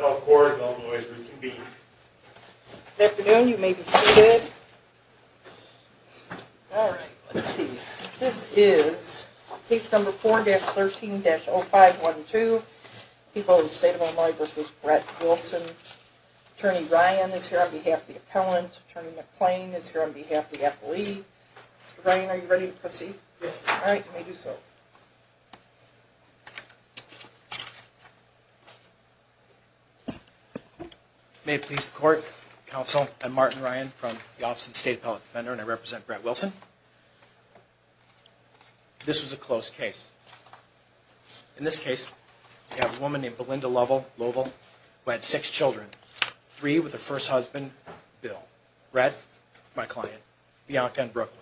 All right, let's see. This is case number 4-13-0512. People of the State of Illinois v. Brett Wilson. Attorney Ryan is here on behalf of the appellant. Attorney McClain is here on behalf of the appellee. Mr. Ryan, are you ready to proceed? Yes. All right, you may do so. May it please the court, counsel, I'm Martin Ryan from the Office of the State Appellate Defender and I represent Brett Wilson. This was a closed case. In this case, we have a woman named Belinda Lovell who had six children. Three with her first husband, Bill. Brett, my client, Bianca and Brooklyn.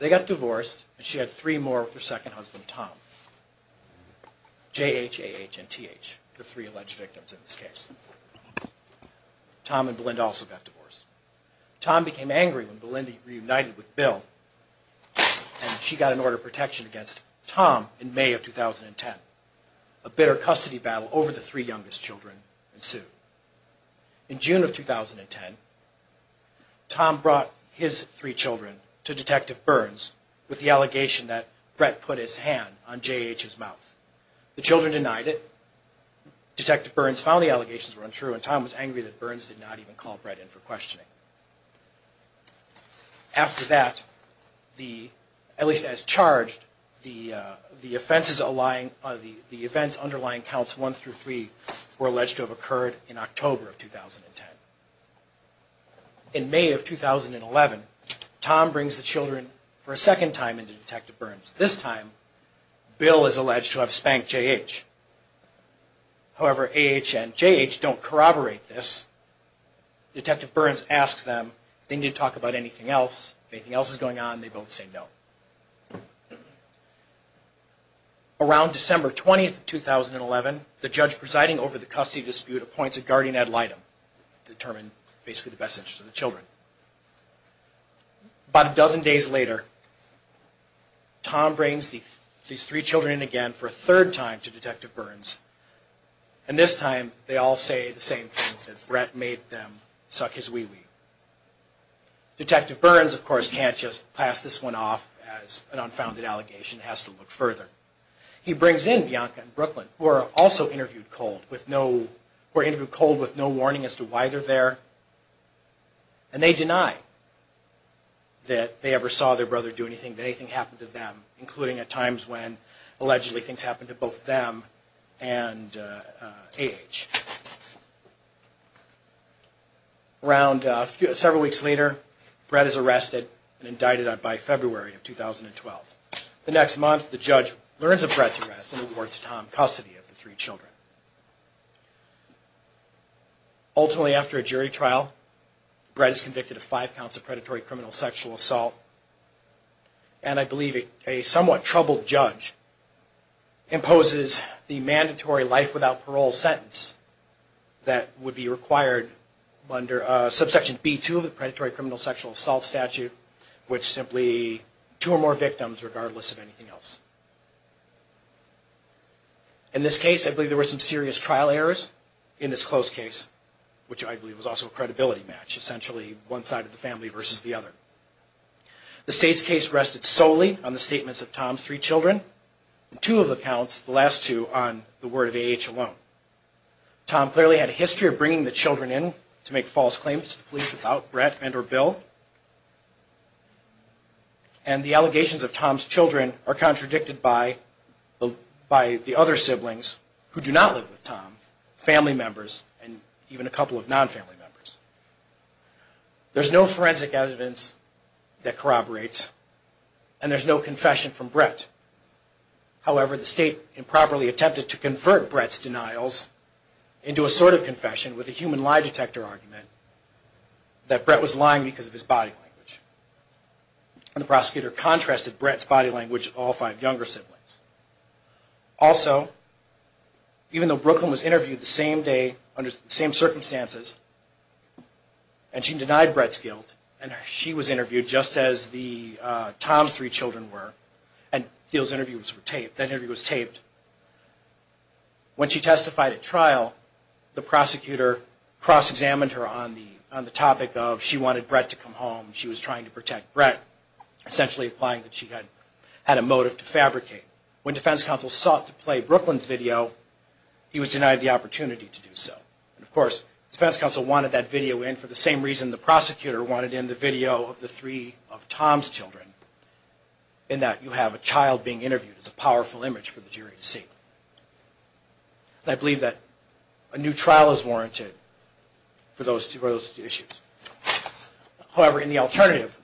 They got divorced and she had three more with her second husband, Tom. J-H-A-H-N-T-H, the three alleged victims in this case. Tom and Belinda also got divorced. Tom became angry when Belinda reunited with Bill and she got an order of protection against Tom in May of 2010. A bitter custody battle over the three youngest children ensued. In June of 2010, Tom brought his three children to Detective Burns with the allegation that Brett put his hand on J-H's mouth. The children denied it. Detective Burns found the allegations were untrue and Tom was angry that Burns did not even call Brett in for questioning. After that, at least as charged, the offenses underlying counts one through three were alleged to have occurred in October of 2010. In May of 2011, Tom brings the children for a second time into Detective Burns. This time, Bill is alleged to have spanked J-H. However, A-H and J-H don't corroborate this. Detective Burns asks them if they need to talk about anything else. If anything else is going on, they both say no. Around December 20, 2011, the judge presiding over the custody dispute appoints a guardian ad litem to determine basically the best interest of the children. About a dozen days later, Tom brings these three children in again for a third time to Detective Burns. And this time, they all say the same thing, that Brett made them suck his wee-wee. Detective Burns, of course, can't just pass this one off as an unfounded allegation. He has to look further. He brings in Bianca and Brooklyn, who are also interviewed cold with no warning as to why they're there. And they deny that they ever saw their brother do anything, that anything happened to them, including at times when allegedly things happened to both them and A-H. Around several weeks later, Brett is arrested and indicted by February of 2012. The next month, the judge learns of Brett's arrest and awards Tom custody of the three children. Ultimately, after a jury trial, Brett is convicted of five counts of predatory criminal sexual assault. And I believe a somewhat troubled judge imposes the mandatory life without parole sentence that would be required under subsection B-2 of the predatory criminal sexual assault statute, which is simply two or more victims regardless of anything else. In this case, I believe there were some serious trial errors in this close case, which I believe was also a credibility match, essentially one side of the family versus the other. The States case rested solely on the statements of Tom's three children, and two of the counts, the last two, on the word of A-H alone. Tom clearly had a history of bringing the children in to make false claims to the police about Brett and or Bill. And the allegations of Tom's children are contradicted by the other siblings who do not live with Tom, family members and even a couple of non-family members. There's no forensic evidence that corroborates and there's no confession from Brett. However, the State improperly attempted to convert Brett's denials into a sort of confession with a human lie detector argument that Brett was lying because of his body language. And the prosecutor contrasted Brett's body language with all five younger siblings. Also, even though Brooklyn was interviewed the same day under the same circumstances, and she denied Brett's guilt, and she was interviewed just as Tom's three children were, and those interviews were taped, that interview was taped, when she testified at trial, the prosecutor cross-examined her on the topic of she wanted Brett to come home. She was trying to protect Brett, essentially implying that she had a motive to fabricate. When defense counsel sought to play Brooklyn's video, he was denied the opportunity to do so. And of course, defense counsel wanted that video in for the same reason the prosecutor wanted in the video of the three of Tom's children, in that you have a child being interviewed. It's a powerful image for the jury to see. And I believe that a new trial is warranted for those two issues. However, in the alternative,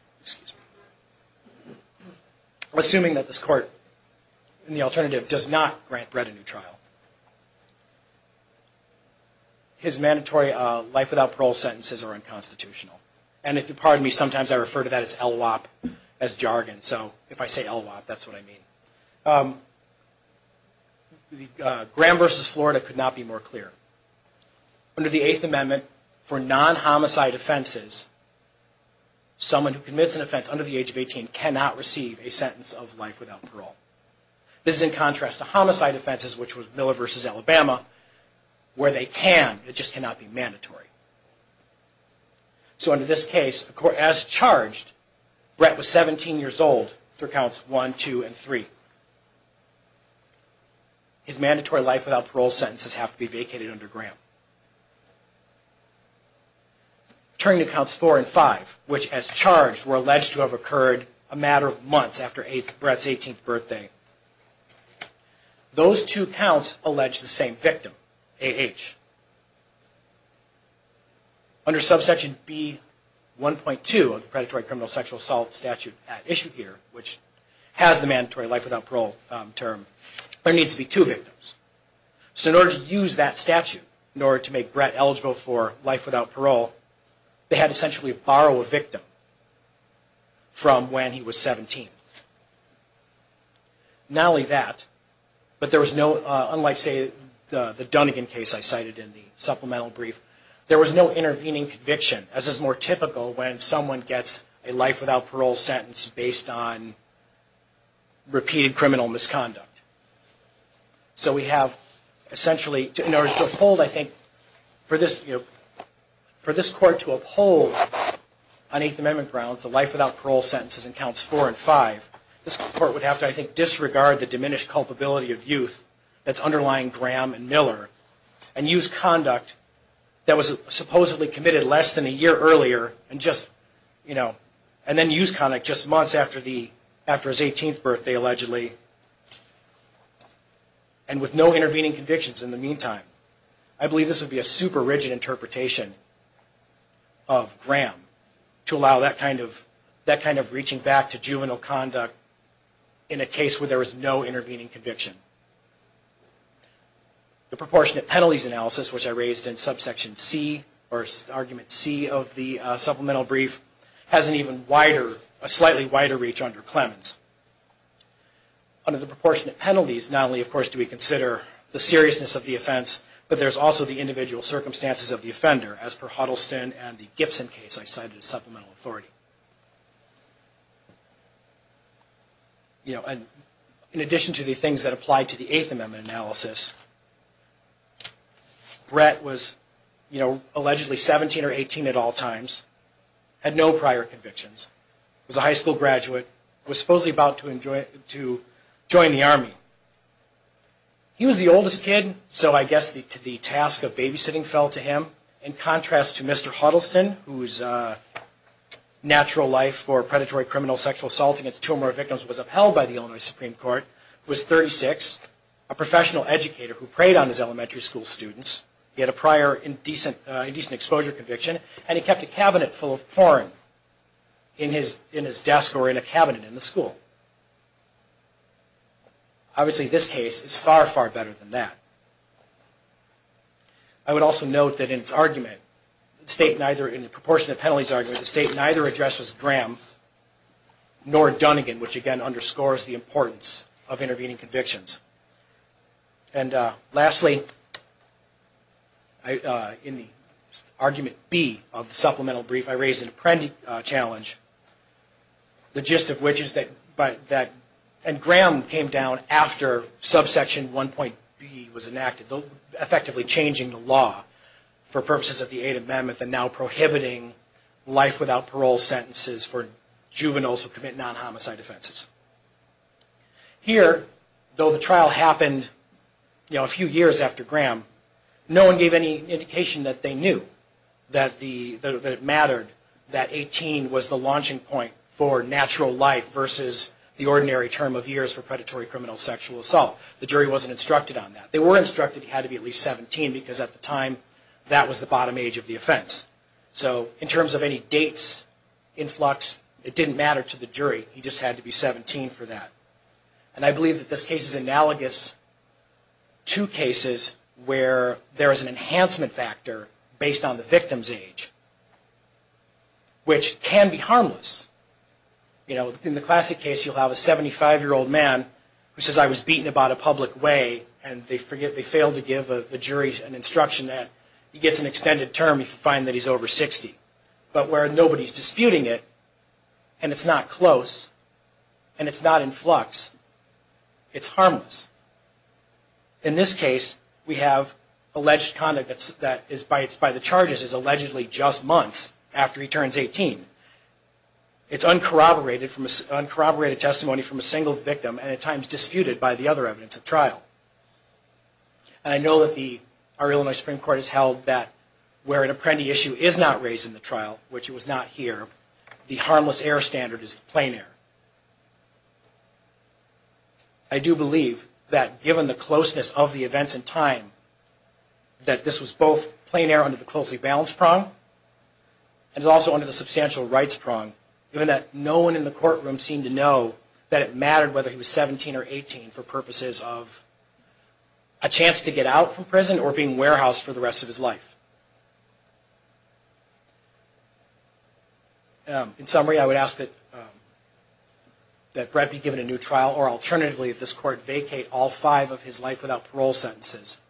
I'm assuming that this court in the alternative does not grant Brett a new trial. His mandatory life without parole sentences are unconstitutional. And if you'll pardon me, sometimes I refer to that as LWOP as jargon. So if I say LWOP, that's what I mean. Graham v. Florida could not be more clear. Under the Eighth Amendment, for non-homicide offenses, someone who commits an offense under the age of 18 cannot receive a sentence of life without parole. This is in contrast to homicide offenses, which was Miller v. Alabama, where they can, it just cannot be mandatory. So under this case, as charged, Brett was 17 years old through counts 1, 2, and 3. His mandatory life without parole sentences have to be vacated under Graham. Turning to counts 4 and 5, which as charged were alleged to have occurred a matter of months after Brett's 18th birthday. Those two counts allege the same victim, A.H. Under subsection B.1.2 of the predatory criminal sexual assault statute at issue here, which has the mandatory life without parole term, there needs to be two victims. So in order to use that statute, in order to make Brett eligible for life without parole, they had to essentially borrow a victim from when he was 17. Not only that, but there was no, unlike say the Dunnigan case I cited in the supplemental brief, there was no intervening conviction, as is more typical when someone gets a life without parole sentence based on repeated criminal misconduct. So we have essentially, in order to uphold, I think, for this, you know, for this court to uphold on Eighth Amendment grounds, the life without parole sentences in counts 4 and 5, this court would have to, I think, disregard the diminished culpability of youth that's underlying Graham and Miller, and use conduct that was supposedly committed less than a year earlier, and just, you know, and then use conduct just months after the, after his 18th birthday allegedly. And with no intervening convictions in the meantime, I believe this would be a super rigid interpretation of Graham to allow that kind of, that kind of reaching back to juvenile conduct in a case where there was no intervening conviction. The proportionate penalties analysis, which I raised in subsection C, or argument C of the supplemental brief, has an even wider, a slightly wider reach under Clemens. Under the proportionate penalties, not only, of course, do we consider the seriousness of the offense, but there's also the individual circumstances of the offender, as per Huddleston and the Gibson case I cited as supplemental authority. You know, and in addition to the things that apply to the Eighth Amendment analysis, Brett was, you know, allegedly 17 or 18 at all times, had no prior convictions, was a high school graduate, was supposedly about to enjoy, to join the Army. He was the oldest kid, so I guess the task of babysitting fell to him. In contrast to Mr. Huddleston, whose natural life for predatory criminal sexual assault against two or more victims was upheld by the Illinois Supreme Court, was 36, a professional educator who preyed on his elementary school students. He had a prior indecent exposure conviction, and he kept a cabinet full of porn in his desk or in a cabinet in the school. Obviously, this case is far, far better than that. I would also note that in its argument, in the proportionate penalties argument, the state neither addressed Graham nor Dunnigan, which again underscores the importance of intervening convictions. And lastly, in the argument B of the supplemental brief, I raised an apprendic challenge, the gist of which is that, and Graham came down after subsection 1.B was enacted, effectively changing the law for purposes of the Eighth Amendment and now prohibiting life without parole sentences for juveniles who commit non-homicide offenses. Here, though the trial happened a few years after Graham, no one gave any indication that they knew that it mattered that 18 was the launching point for natural life versus the ordinary term of years for predatory criminal sexual assault. The jury wasn't instructed on that. They were instructed that he had to be at least 17, because at the time, that was the bottom age of the offense. So in terms of any dates, influx, it didn't matter to the jury. He just had to be 17 for that. And I believe that this case is analogous to cases where there is an enhancement factor based on the victim's age, which can be harmless. In the classic case, you'll have a 75-year-old man who says, I was beaten about a public way, and they fail to give the jury an instruction that he gets an extended term if he finds that he's over 60. But where nobody's disputing it, and it's not close, and it's not in flux, it's harmless. In this case, we have alleged conduct that is by the charges is allegedly just months after he turns 18. It's uncorroborated testimony from a single victim, and at times disputed by the other evidence at trial. And I know that our Illinois Supreme Court has held that where an apprendee issue is not raised in the trial, which it was not here, the harmless error standard is the plain error. I do believe that given the closeness of the events in time, that this was both plain error under the closely balanced prong, and also under the substantial rights prong, given that no one in the courtroom seemed to know that it mattered whether he was 17 or 18 for purposes of a chance to get out from prison or being warehoused for the rest of his life. In summary, I would ask that Brett be given a new trial, or alternatively, that this court vacate all five of his life without parole sentences,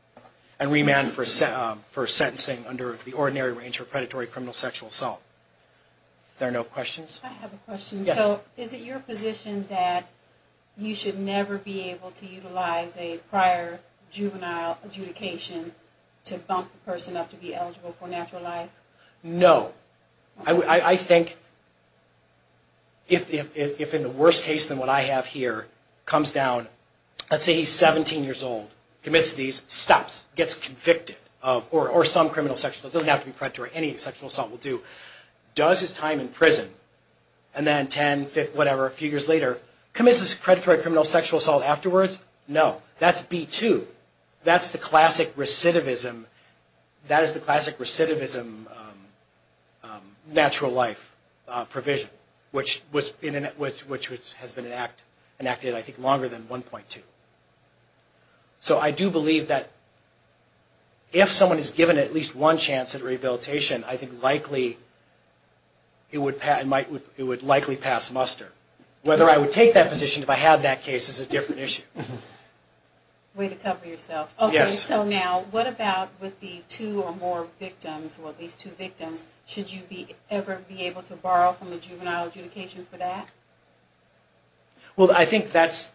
and remand for sentencing under the ordinary range for predatory criminal sexual assault. Are there no questions? I have a question. So is it your position that you should never be able to utilize a prior juvenile adjudication to bump a person up to be eligible for natural life? No. I think if in the worst case than what I have here comes down, let's say he's 17 years old, commits these, stops, gets convicted, or some criminal sexual assault, doesn't have to be predatory, any sexual assault will do, does his time in prison, and then 10, whatever, a few years later, commits this predatory criminal sexual assault afterwards? No. That's B2. That's the classic recidivism natural life provision, which has been enacted, I think, longer than 1.2. So I do believe that if someone is given at least one chance at rehabilitation, I think it would likely pass muster. Whether I would take that position if I had that case is a different issue. Way to cover yourself. Yes. So now, what about with the two or more victims, or at least two victims, should you ever be able to borrow from the juvenile adjudication for that? Well, I think that's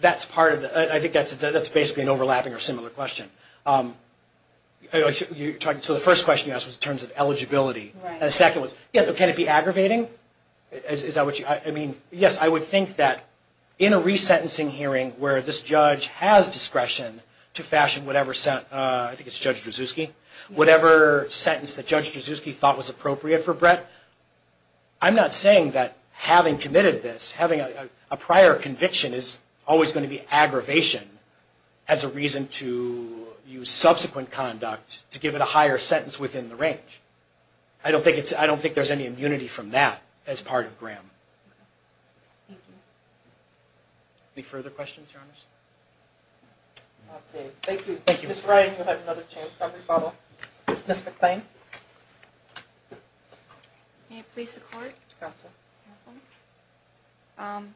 basically an overlapping or similar question. So the first question you asked was in terms of eligibility, and the second was, yes, but can it be aggravating? Is that what you, I mean, yes, I would think that in a resentencing hearing where this judge has discretion to fashion whatever sentence, I think it's Judge Drzewski, whatever sentence that Judge Drzewski thought was appropriate for Brett, I'm not saying that having committed this, having a prior conviction is always going to be aggravation as a reason to use subsequent conduct to give it a higher sentence within the range. I don't think it's, I don't think there's any immunity from that as part of Graham. Thank you. Any further questions, Your Honor? I'll take it. Thank you. Thank you. Ms. Ryan, you have another chance on rebuttal. Ms. McClain. Ms. McClain. May it please the Court? Yes, ma'am.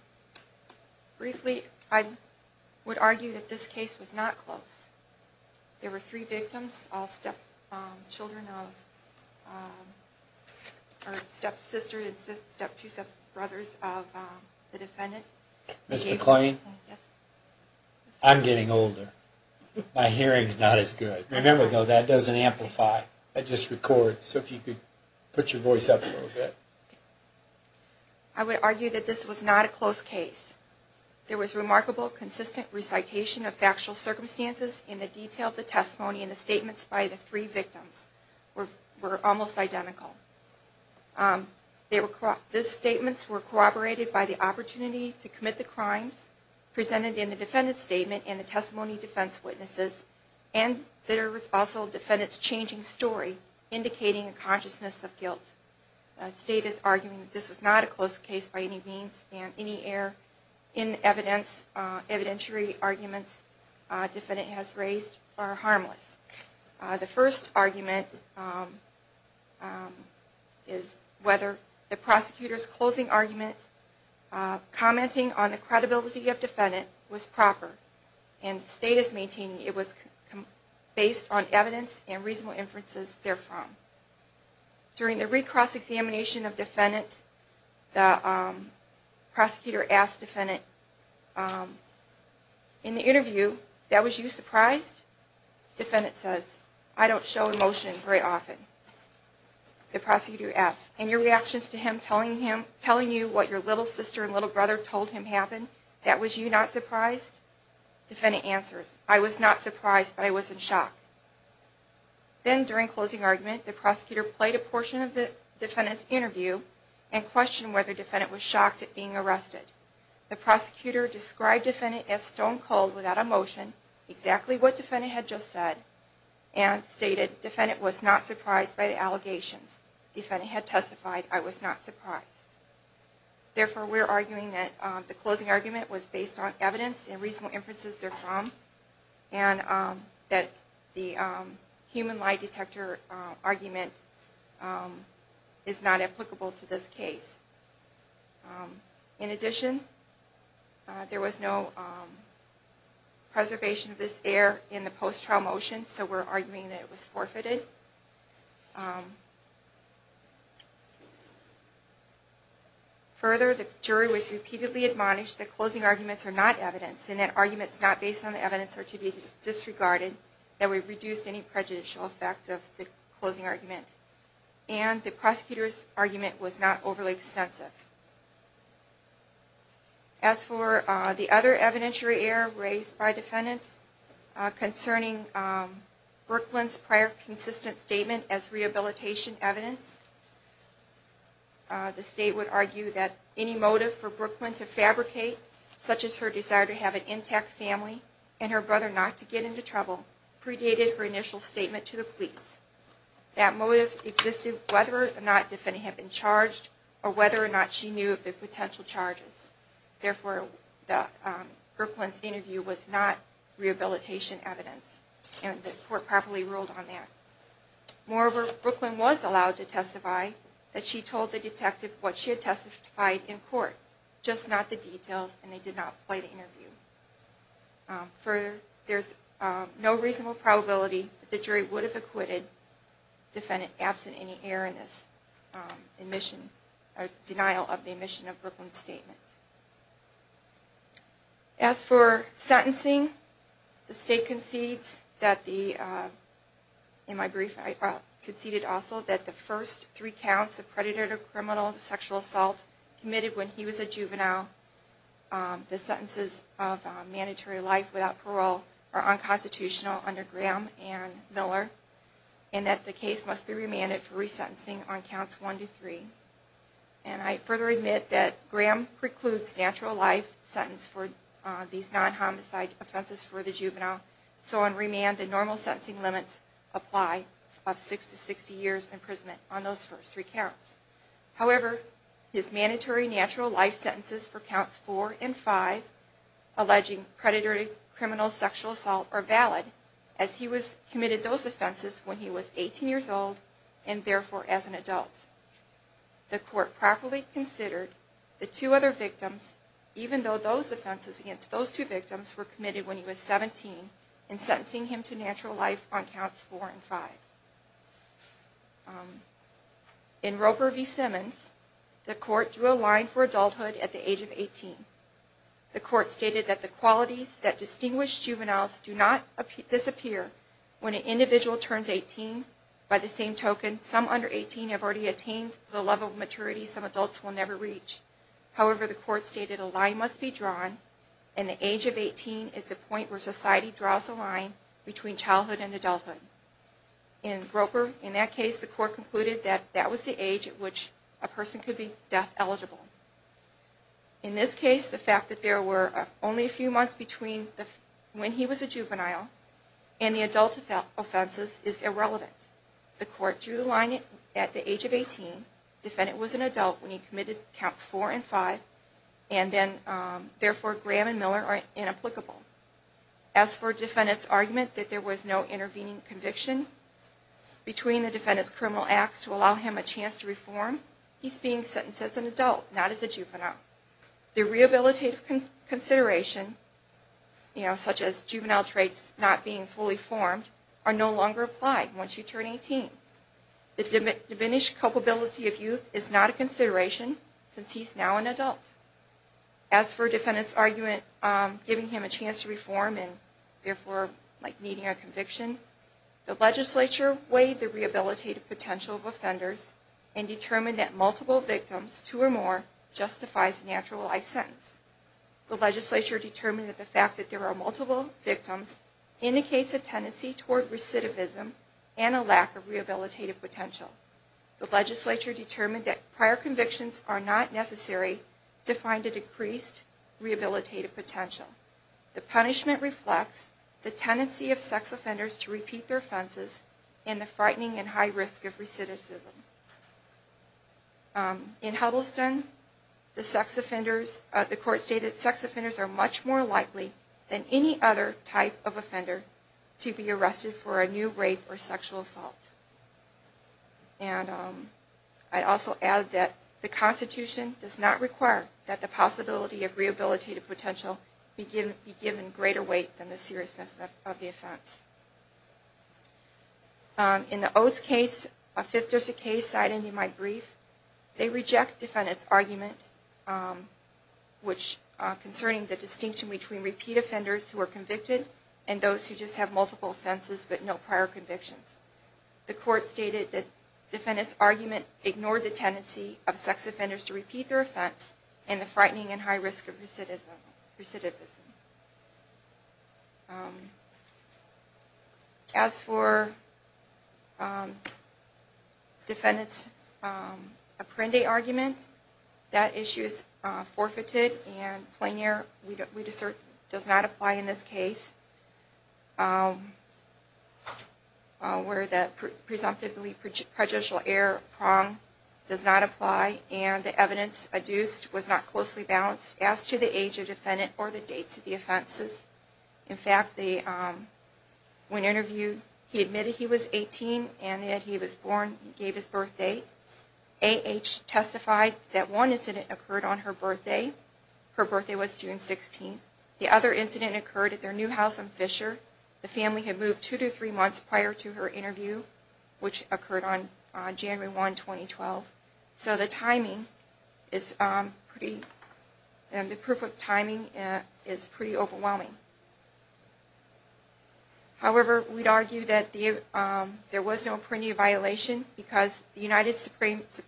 Briefly, I would argue that this case was not close. There were three victims, all stepchildren of, or step sisters, step two step brothers of the defendant. Ms. McClain, I'm getting older. My hearing's not as good. Remember, though, that doesn't amplify, that just records, so if you could put your voice up a little bit. I would argue that this was not a close case. There was remarkable, consistent recitation of factual circumstances, and the detail of the testimony and the statements by the three victims were almost identical. The statements were corroborated by the opportunity to commit the crimes presented in the defendant's statement and the testimony of defense witnesses, and there was also the defendant's changing story, indicating a consciousness of guilt. The State is arguing that this was not a close case by any means, and any error in evidentiary arguments the defendant has raised are harmless. The first argument is whether the prosecutor's closing argument commenting on the credibility of the defendant was proper, and the State is maintaining it was based on evidence and reasonable inferences therefrom. During the recross examination of the defendant, the prosecutor asked the defendant, in the interview, that was you surprised? The defendant says, I don't show emotion very often. The prosecutor asks, in your reactions to him telling you what your little sister and little brother told him happened, that was you not surprised? The defendant answers, I was not surprised, but I was in shock. Then, during closing argument, the prosecutor played a portion of the defendant's interview and questioned whether the defendant was shocked at being arrested. The prosecutor described the defendant as stone cold without emotion, exactly what the defendant had just said, and stated the defendant was not surprised by the allegations. The defendant had testified, I was not surprised. Therefore, we're arguing that the closing argument was based on evidence and reasonable inferences therefrom, and that the human lie detector argument is not applicable to this case. In addition, there was no preservation of this error in the post-trial motion, so we're arguing that it was forfeited. Further, the jury was repeatedly admonished that closing arguments are not evidence, and that arguments not based on the evidence are to be disregarded, and that we've reduced any prejudicial effect of the closing argument, and the prosecutor's argument was not overly extensive. As for the other evidentiary error raised by defendants concerning Brooklyn's prior consistent statement as rehabilitation evidence, the state would argue that any motive for Brooklyn to fabricate, such as her desire to have an intact family and her brother not to get into trouble, predated her initial statement to the police. That motive existed whether or not the defendant had been charged, or whether or not she knew of the potential charges. Therefore, Brooklyn's interview was not rehabilitation evidence, and the court properly ruled on that. Moreover, Brooklyn was allowed to testify that she told the detective what she had testified in court, just not the details, and they did not play the interview. Further, there's no reasonable probability that the jury would have acquitted the defendant absent any error in this admission, or denial of the admission of Brooklyn's statement. As for sentencing, the state concedes that the first three counts of predator-to-criminal sexual assault committed when he was a juvenile, the sentences of mandatory life without parole, are unconstitutional under Graham and Miller, and that the case must be remanded for resentencing on counts one to three. And I further admit that Graham precludes natural life sentences for these non-homicide offenses for the juvenile, so on remand, the normal sentencing limits apply of six to sixty years' imprisonment on those first three counts. However, his mandatory natural life sentences for counts four and five, alleging predator-to-criminal sexual assault, are valid, as he committed those offenses when he was eighteen years old, and therefore as an adult. The court properly considered the two other victims, even though those offenses against those two victims were committed when he was seventeen, and sentencing him to natural life on counts four and five. In Roper v. Simmons, the court drew a line for adulthood at the age of eighteen. The court stated that the qualities that distinguish juveniles do not disappear when an individual turns eighteen. By the same token, some under eighteen have already attained the level of maturity some adults will never reach. However, the court stated a line must be drawn, and the age of eighteen is the point where society draws a line between childhood and adulthood. In Roper, in that case, the court concluded that that was the age at which a person could be death eligible. In this case, the fact that there were only a few months between when he was a juvenile and the adult offenses is irrelevant. The court drew the line at the age of eighteen, the defendant was an adult when he committed counts four and five, and therefore Graham and Miller are inapplicable. As for the defendant's argument that there was no intervening conviction between the defendant's criminal acts to allow him a chance to reform, he's being sentenced as an adult, not as a juvenile. The rehabilitative consideration, such as juvenile traits not being fully formed, are no longer applied once you turn eighteen. The diminished culpability of youth is not a consideration since he's now an adult. As for the defendant's argument giving him a chance to reform and therefore needing a conviction, the legislature weighed the rehabilitative potential of offenders and determined that multiple victims, two or more, justifies a natural life sentence. The legislature determined that the fact that there are multiple victims indicates a tendency toward recidivism and a lack of rehabilitative potential. The legislature determined that prior convictions are not necessary to find a decreased rehabilitative potential. The punishment reflects the tendency of sex offenders to repeat their offenses and the frightening and high risk of recidivism. In Huddleston, the court stated that sex offenders are much more likely than any other type of offender to be arrested for a new rape or sexual assault. I'd also add that the Constitution does not require that the possibility of rehabilitative potential be given greater weight than the seriousness of the offense. In the Oates case, a fifth district case cited in my brief, they reject the defendant's argument concerning the distinction between repeat offenders who are convicted and those who just have multiple offenses but no prior convictions. The court stated that the defendant's argument ignored the tendency of sex offenders to repeat their offense and the frightening and high risk of recidivism. As for the defendant's apprende argument, that issue is forfeited and plain-air does not apply in this case where the presumptively prejudicial error prong does not apply and the evidence adduced was not closely balanced as to the age of the defendant or the date of death. In fact, when interviewed, he admitted he was 18 and that he was born and gave his birthday. A.H. testified that one incident occurred on her birthday. Her birthday was June 16th. The other incident occurred at their new house in Fisher. The family had moved two to three months prior to her interview, which occurred on January 1, 2012. So the timing is pretty, the proof of timing is pretty overwhelming. However, we'd argue that there was no apprendia violation because the United States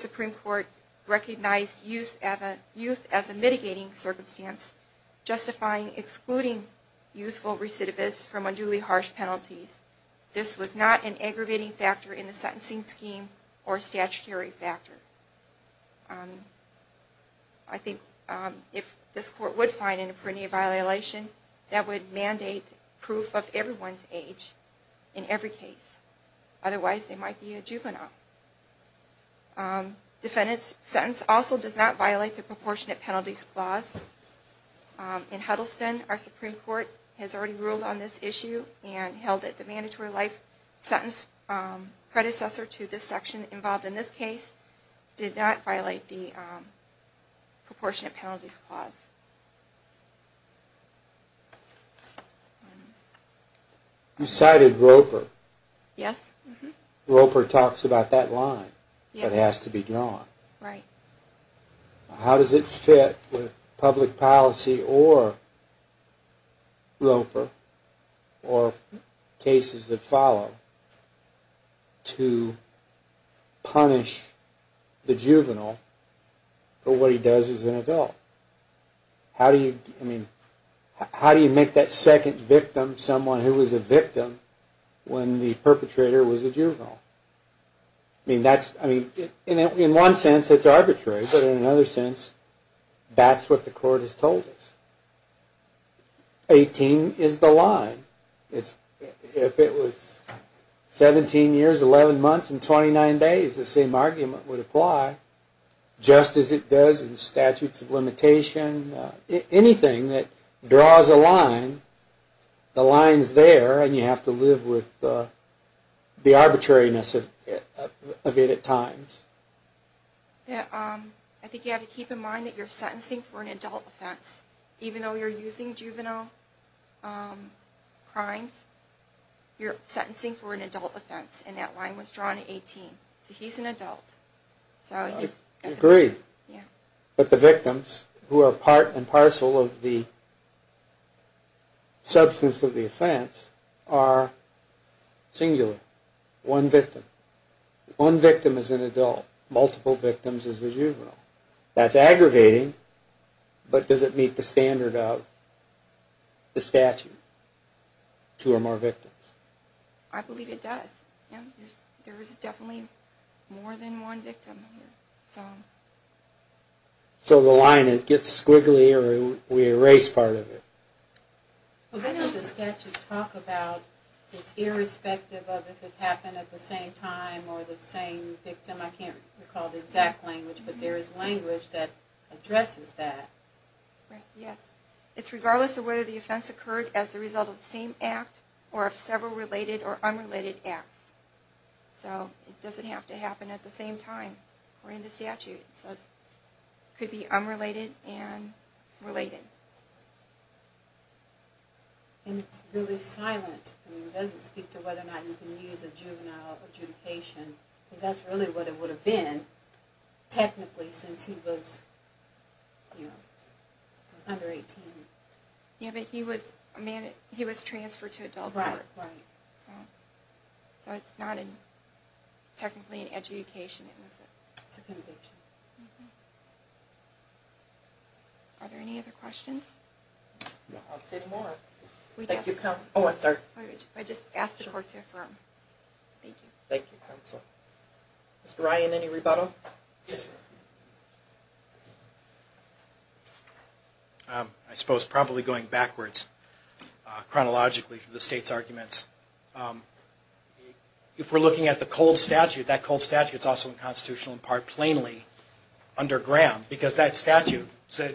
Supreme Court recognized youth as a mitigating circumstance, justifying excluding youthful recidivists from unduly harsh penalties. This was not an aggravating factor in the sentencing scheme or a statutory factor. I think if this Court would find an apprendia violation, that would mandate proof of everyone's age in every case. Otherwise, they might be a juvenile. Defendant's sentence also does not violate the Proportionate Penalties Clause. In Huddleston, our Supreme Court has already ruled on this issue and held that the mandatory life sentence predecessor to this section involved in this case did not violate the Proportionate Penalties Clause. You cited Roper. Roper talks about that line that has to be drawn. How does it fit with public policy or Roper or cases that follow to punish the juvenile for what he does as an adult? How do you make that second victim someone who was a victim when the perpetrator was a juvenile? In one sense, it's arbitrary, but in another sense, that's what the Court has told us. 18 is the line. If it was 17 years, 11 months, and 29 days, the same argument would apply. Just as it does in statutes of limitation, anything that draws a line, the line is there and you have to live with the arbitrariness of it at times. I think you have to keep in mind that you're sentencing for an adult offense. Even though you're using juvenile crimes, you're sentencing for an adult offense. And that line was drawn at 18. So he's an adult. I agree. But the victims who are part and parcel of the substance of the offense are singular. One victim. One victim is an adult. Multiple victims is a juvenile. That's aggravating, but does it meet the standard of the statute, two or more victims? I believe it does. There is definitely more than one victim. So the line, it gets squiggly or we erase part of it? Well, that's what the statute talks about. It's irrespective of if it happened at the same time or the same victim. I can't recall the exact language, but there is language that addresses that. Yes. It's regardless of whether the offense occurred as a result of the same act or of several related or unrelated acts. So it doesn't have to happen at the same time according to the statute. It could be unrelated and related. And it's really silent. It doesn't speak to whether or not you can use a juvenile adjudication because that's really what it would have been technically since he was under 18. Yes, but he was transferred to adult court. So it's not technically an adjudication. It's a conviction. Are there any other questions? No, I'll say no more. I just asked the court to affirm. Thank you. Thank you, counsel. Mr. Ryan, any rebuttal? Yes, sir. I suppose probably going backwards chronologically for the state's arguments, if we're looking at the cold statute, that cold statute is also unconstitutional in part plainly. Under Graham, because that statute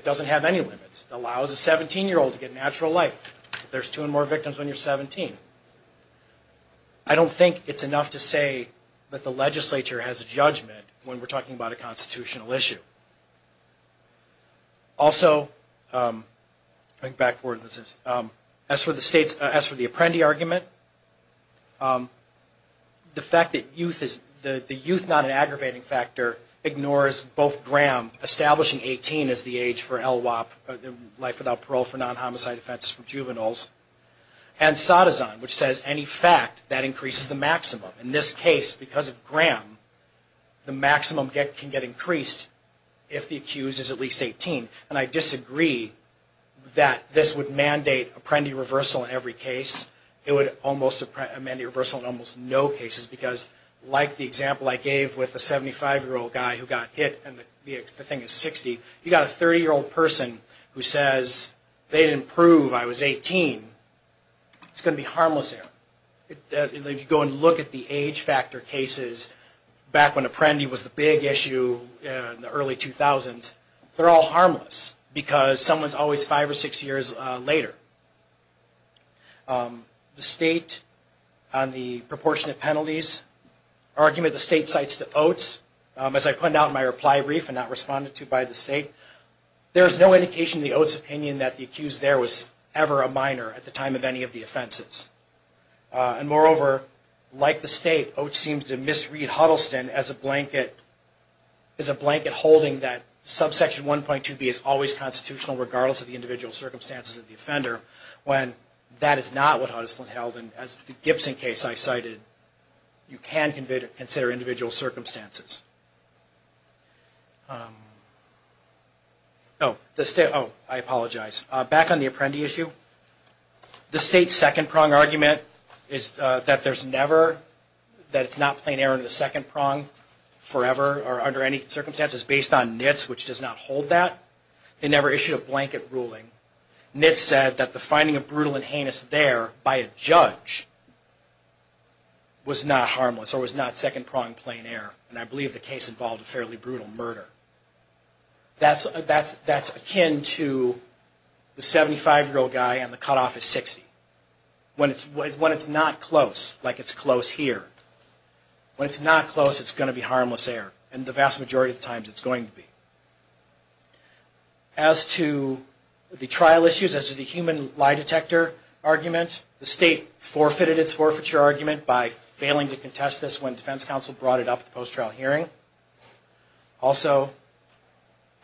doesn't have any limits. It allows a 17-year-old to get natural life. There's two or more victims when you're 17. I don't think it's enough to say that the legislature has a judgment when we're talking about a constitutional issue. Also, going backwards, as for the Apprendi argument, the fact that the youth is not an aggravating factor ignores both Graham establishing 18 as the age for LWOP, life without parole for non-homicide offenses for juveniles, and Sadazan, which says any fact that increases the maximum. In this case, because of Graham, the maximum can get increased if the accused is at least 18. And I disagree that this would mandate Apprendi reversal in every case. It would mandate a reversal in almost no cases because, like the example I gave with the 75-year-old guy who got hit and the thing is 60, you've got a 30-year-old person who says they didn't prove I was 18. It's going to be harmless there. If you go and look at the age factor cases back when Apprendi was the big issue in the early 2000s, they're all harmless because someone's always five or six years later. The state on the proportionate penalties argument, the state cites to Oates. As I pointed out in my reply brief and not responded to by the state, there's no indication in the Oates' opinion that the accused there was ever a minor at the time of any of the offenses. And moreover, like the state, Oates seems to misread Huddleston as a blanket holding that subsection 1.2b is always constitutional, regardless of the individual circumstances of the offender, when that is not what Huddleston held. And as the Gibson case I cited, you can consider individual circumstances. Oh, I apologize. Back on the Apprendi issue, the state's second prong argument is that there's never, that it's not plain error in the second prong forever or under any circumstances based on NITS, which does not hold that. It never issued a blanket ruling. NITS said that the finding of brutal and heinous there by a judge was not harmless or was not second prong plain error. And I believe the case involved a fairly brutal murder. That's akin to the 75-year-old guy and the cutoff is 60. When it's not close, like it's close here, when it's not close, it's going to be harmless error. And the vast majority of times, it's going to be. As to the trial issues, as to the human lie detector argument, the state forfeited its forfeiture argument by failing to contest this when defense counsel brought it up at the post-trial hearing. Also,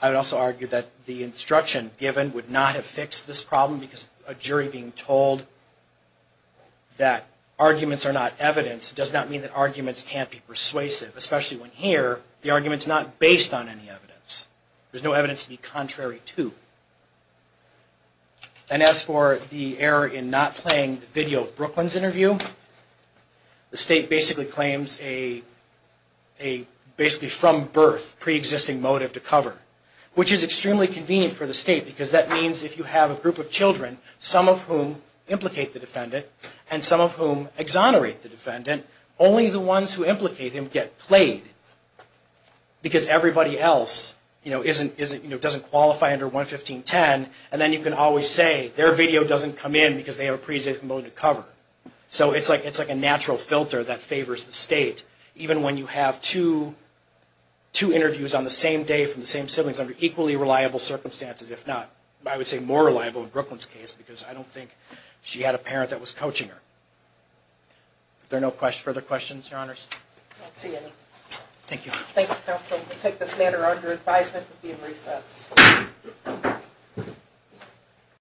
I would also argue that the instruction given would not have fixed this problem because a jury being told that arguments are not evidence does not mean that arguments can't be persuasive, especially when here, the argument's not based on any evidence. There's no evidence to be contrary to. And as for the error in not playing the video of Brooklyn's interview, the state basically claims a basically from birth pre-existing motive to cover, which is extremely convenient for the state because that means if you have a group of children, some of whom implicate the defendant and some of whom exonerate the defendant, only the ones who implicate him get played. Because everybody else doesn't qualify under 115.10, and then you can always say their video doesn't come in because they have a pre-existing motive to cover. So it's like a natural filter that favors the state, even when you have two interviews on the same day from the same siblings under equally reliable circumstances, if not, I would say more reliable in Brooklyn's case, because I don't think she had a parent that was coaching her. Are there no further questions, Your Honors? I don't see any. Thank you. Thank you, Counsel. We'll take this matter under advisement and be in recess.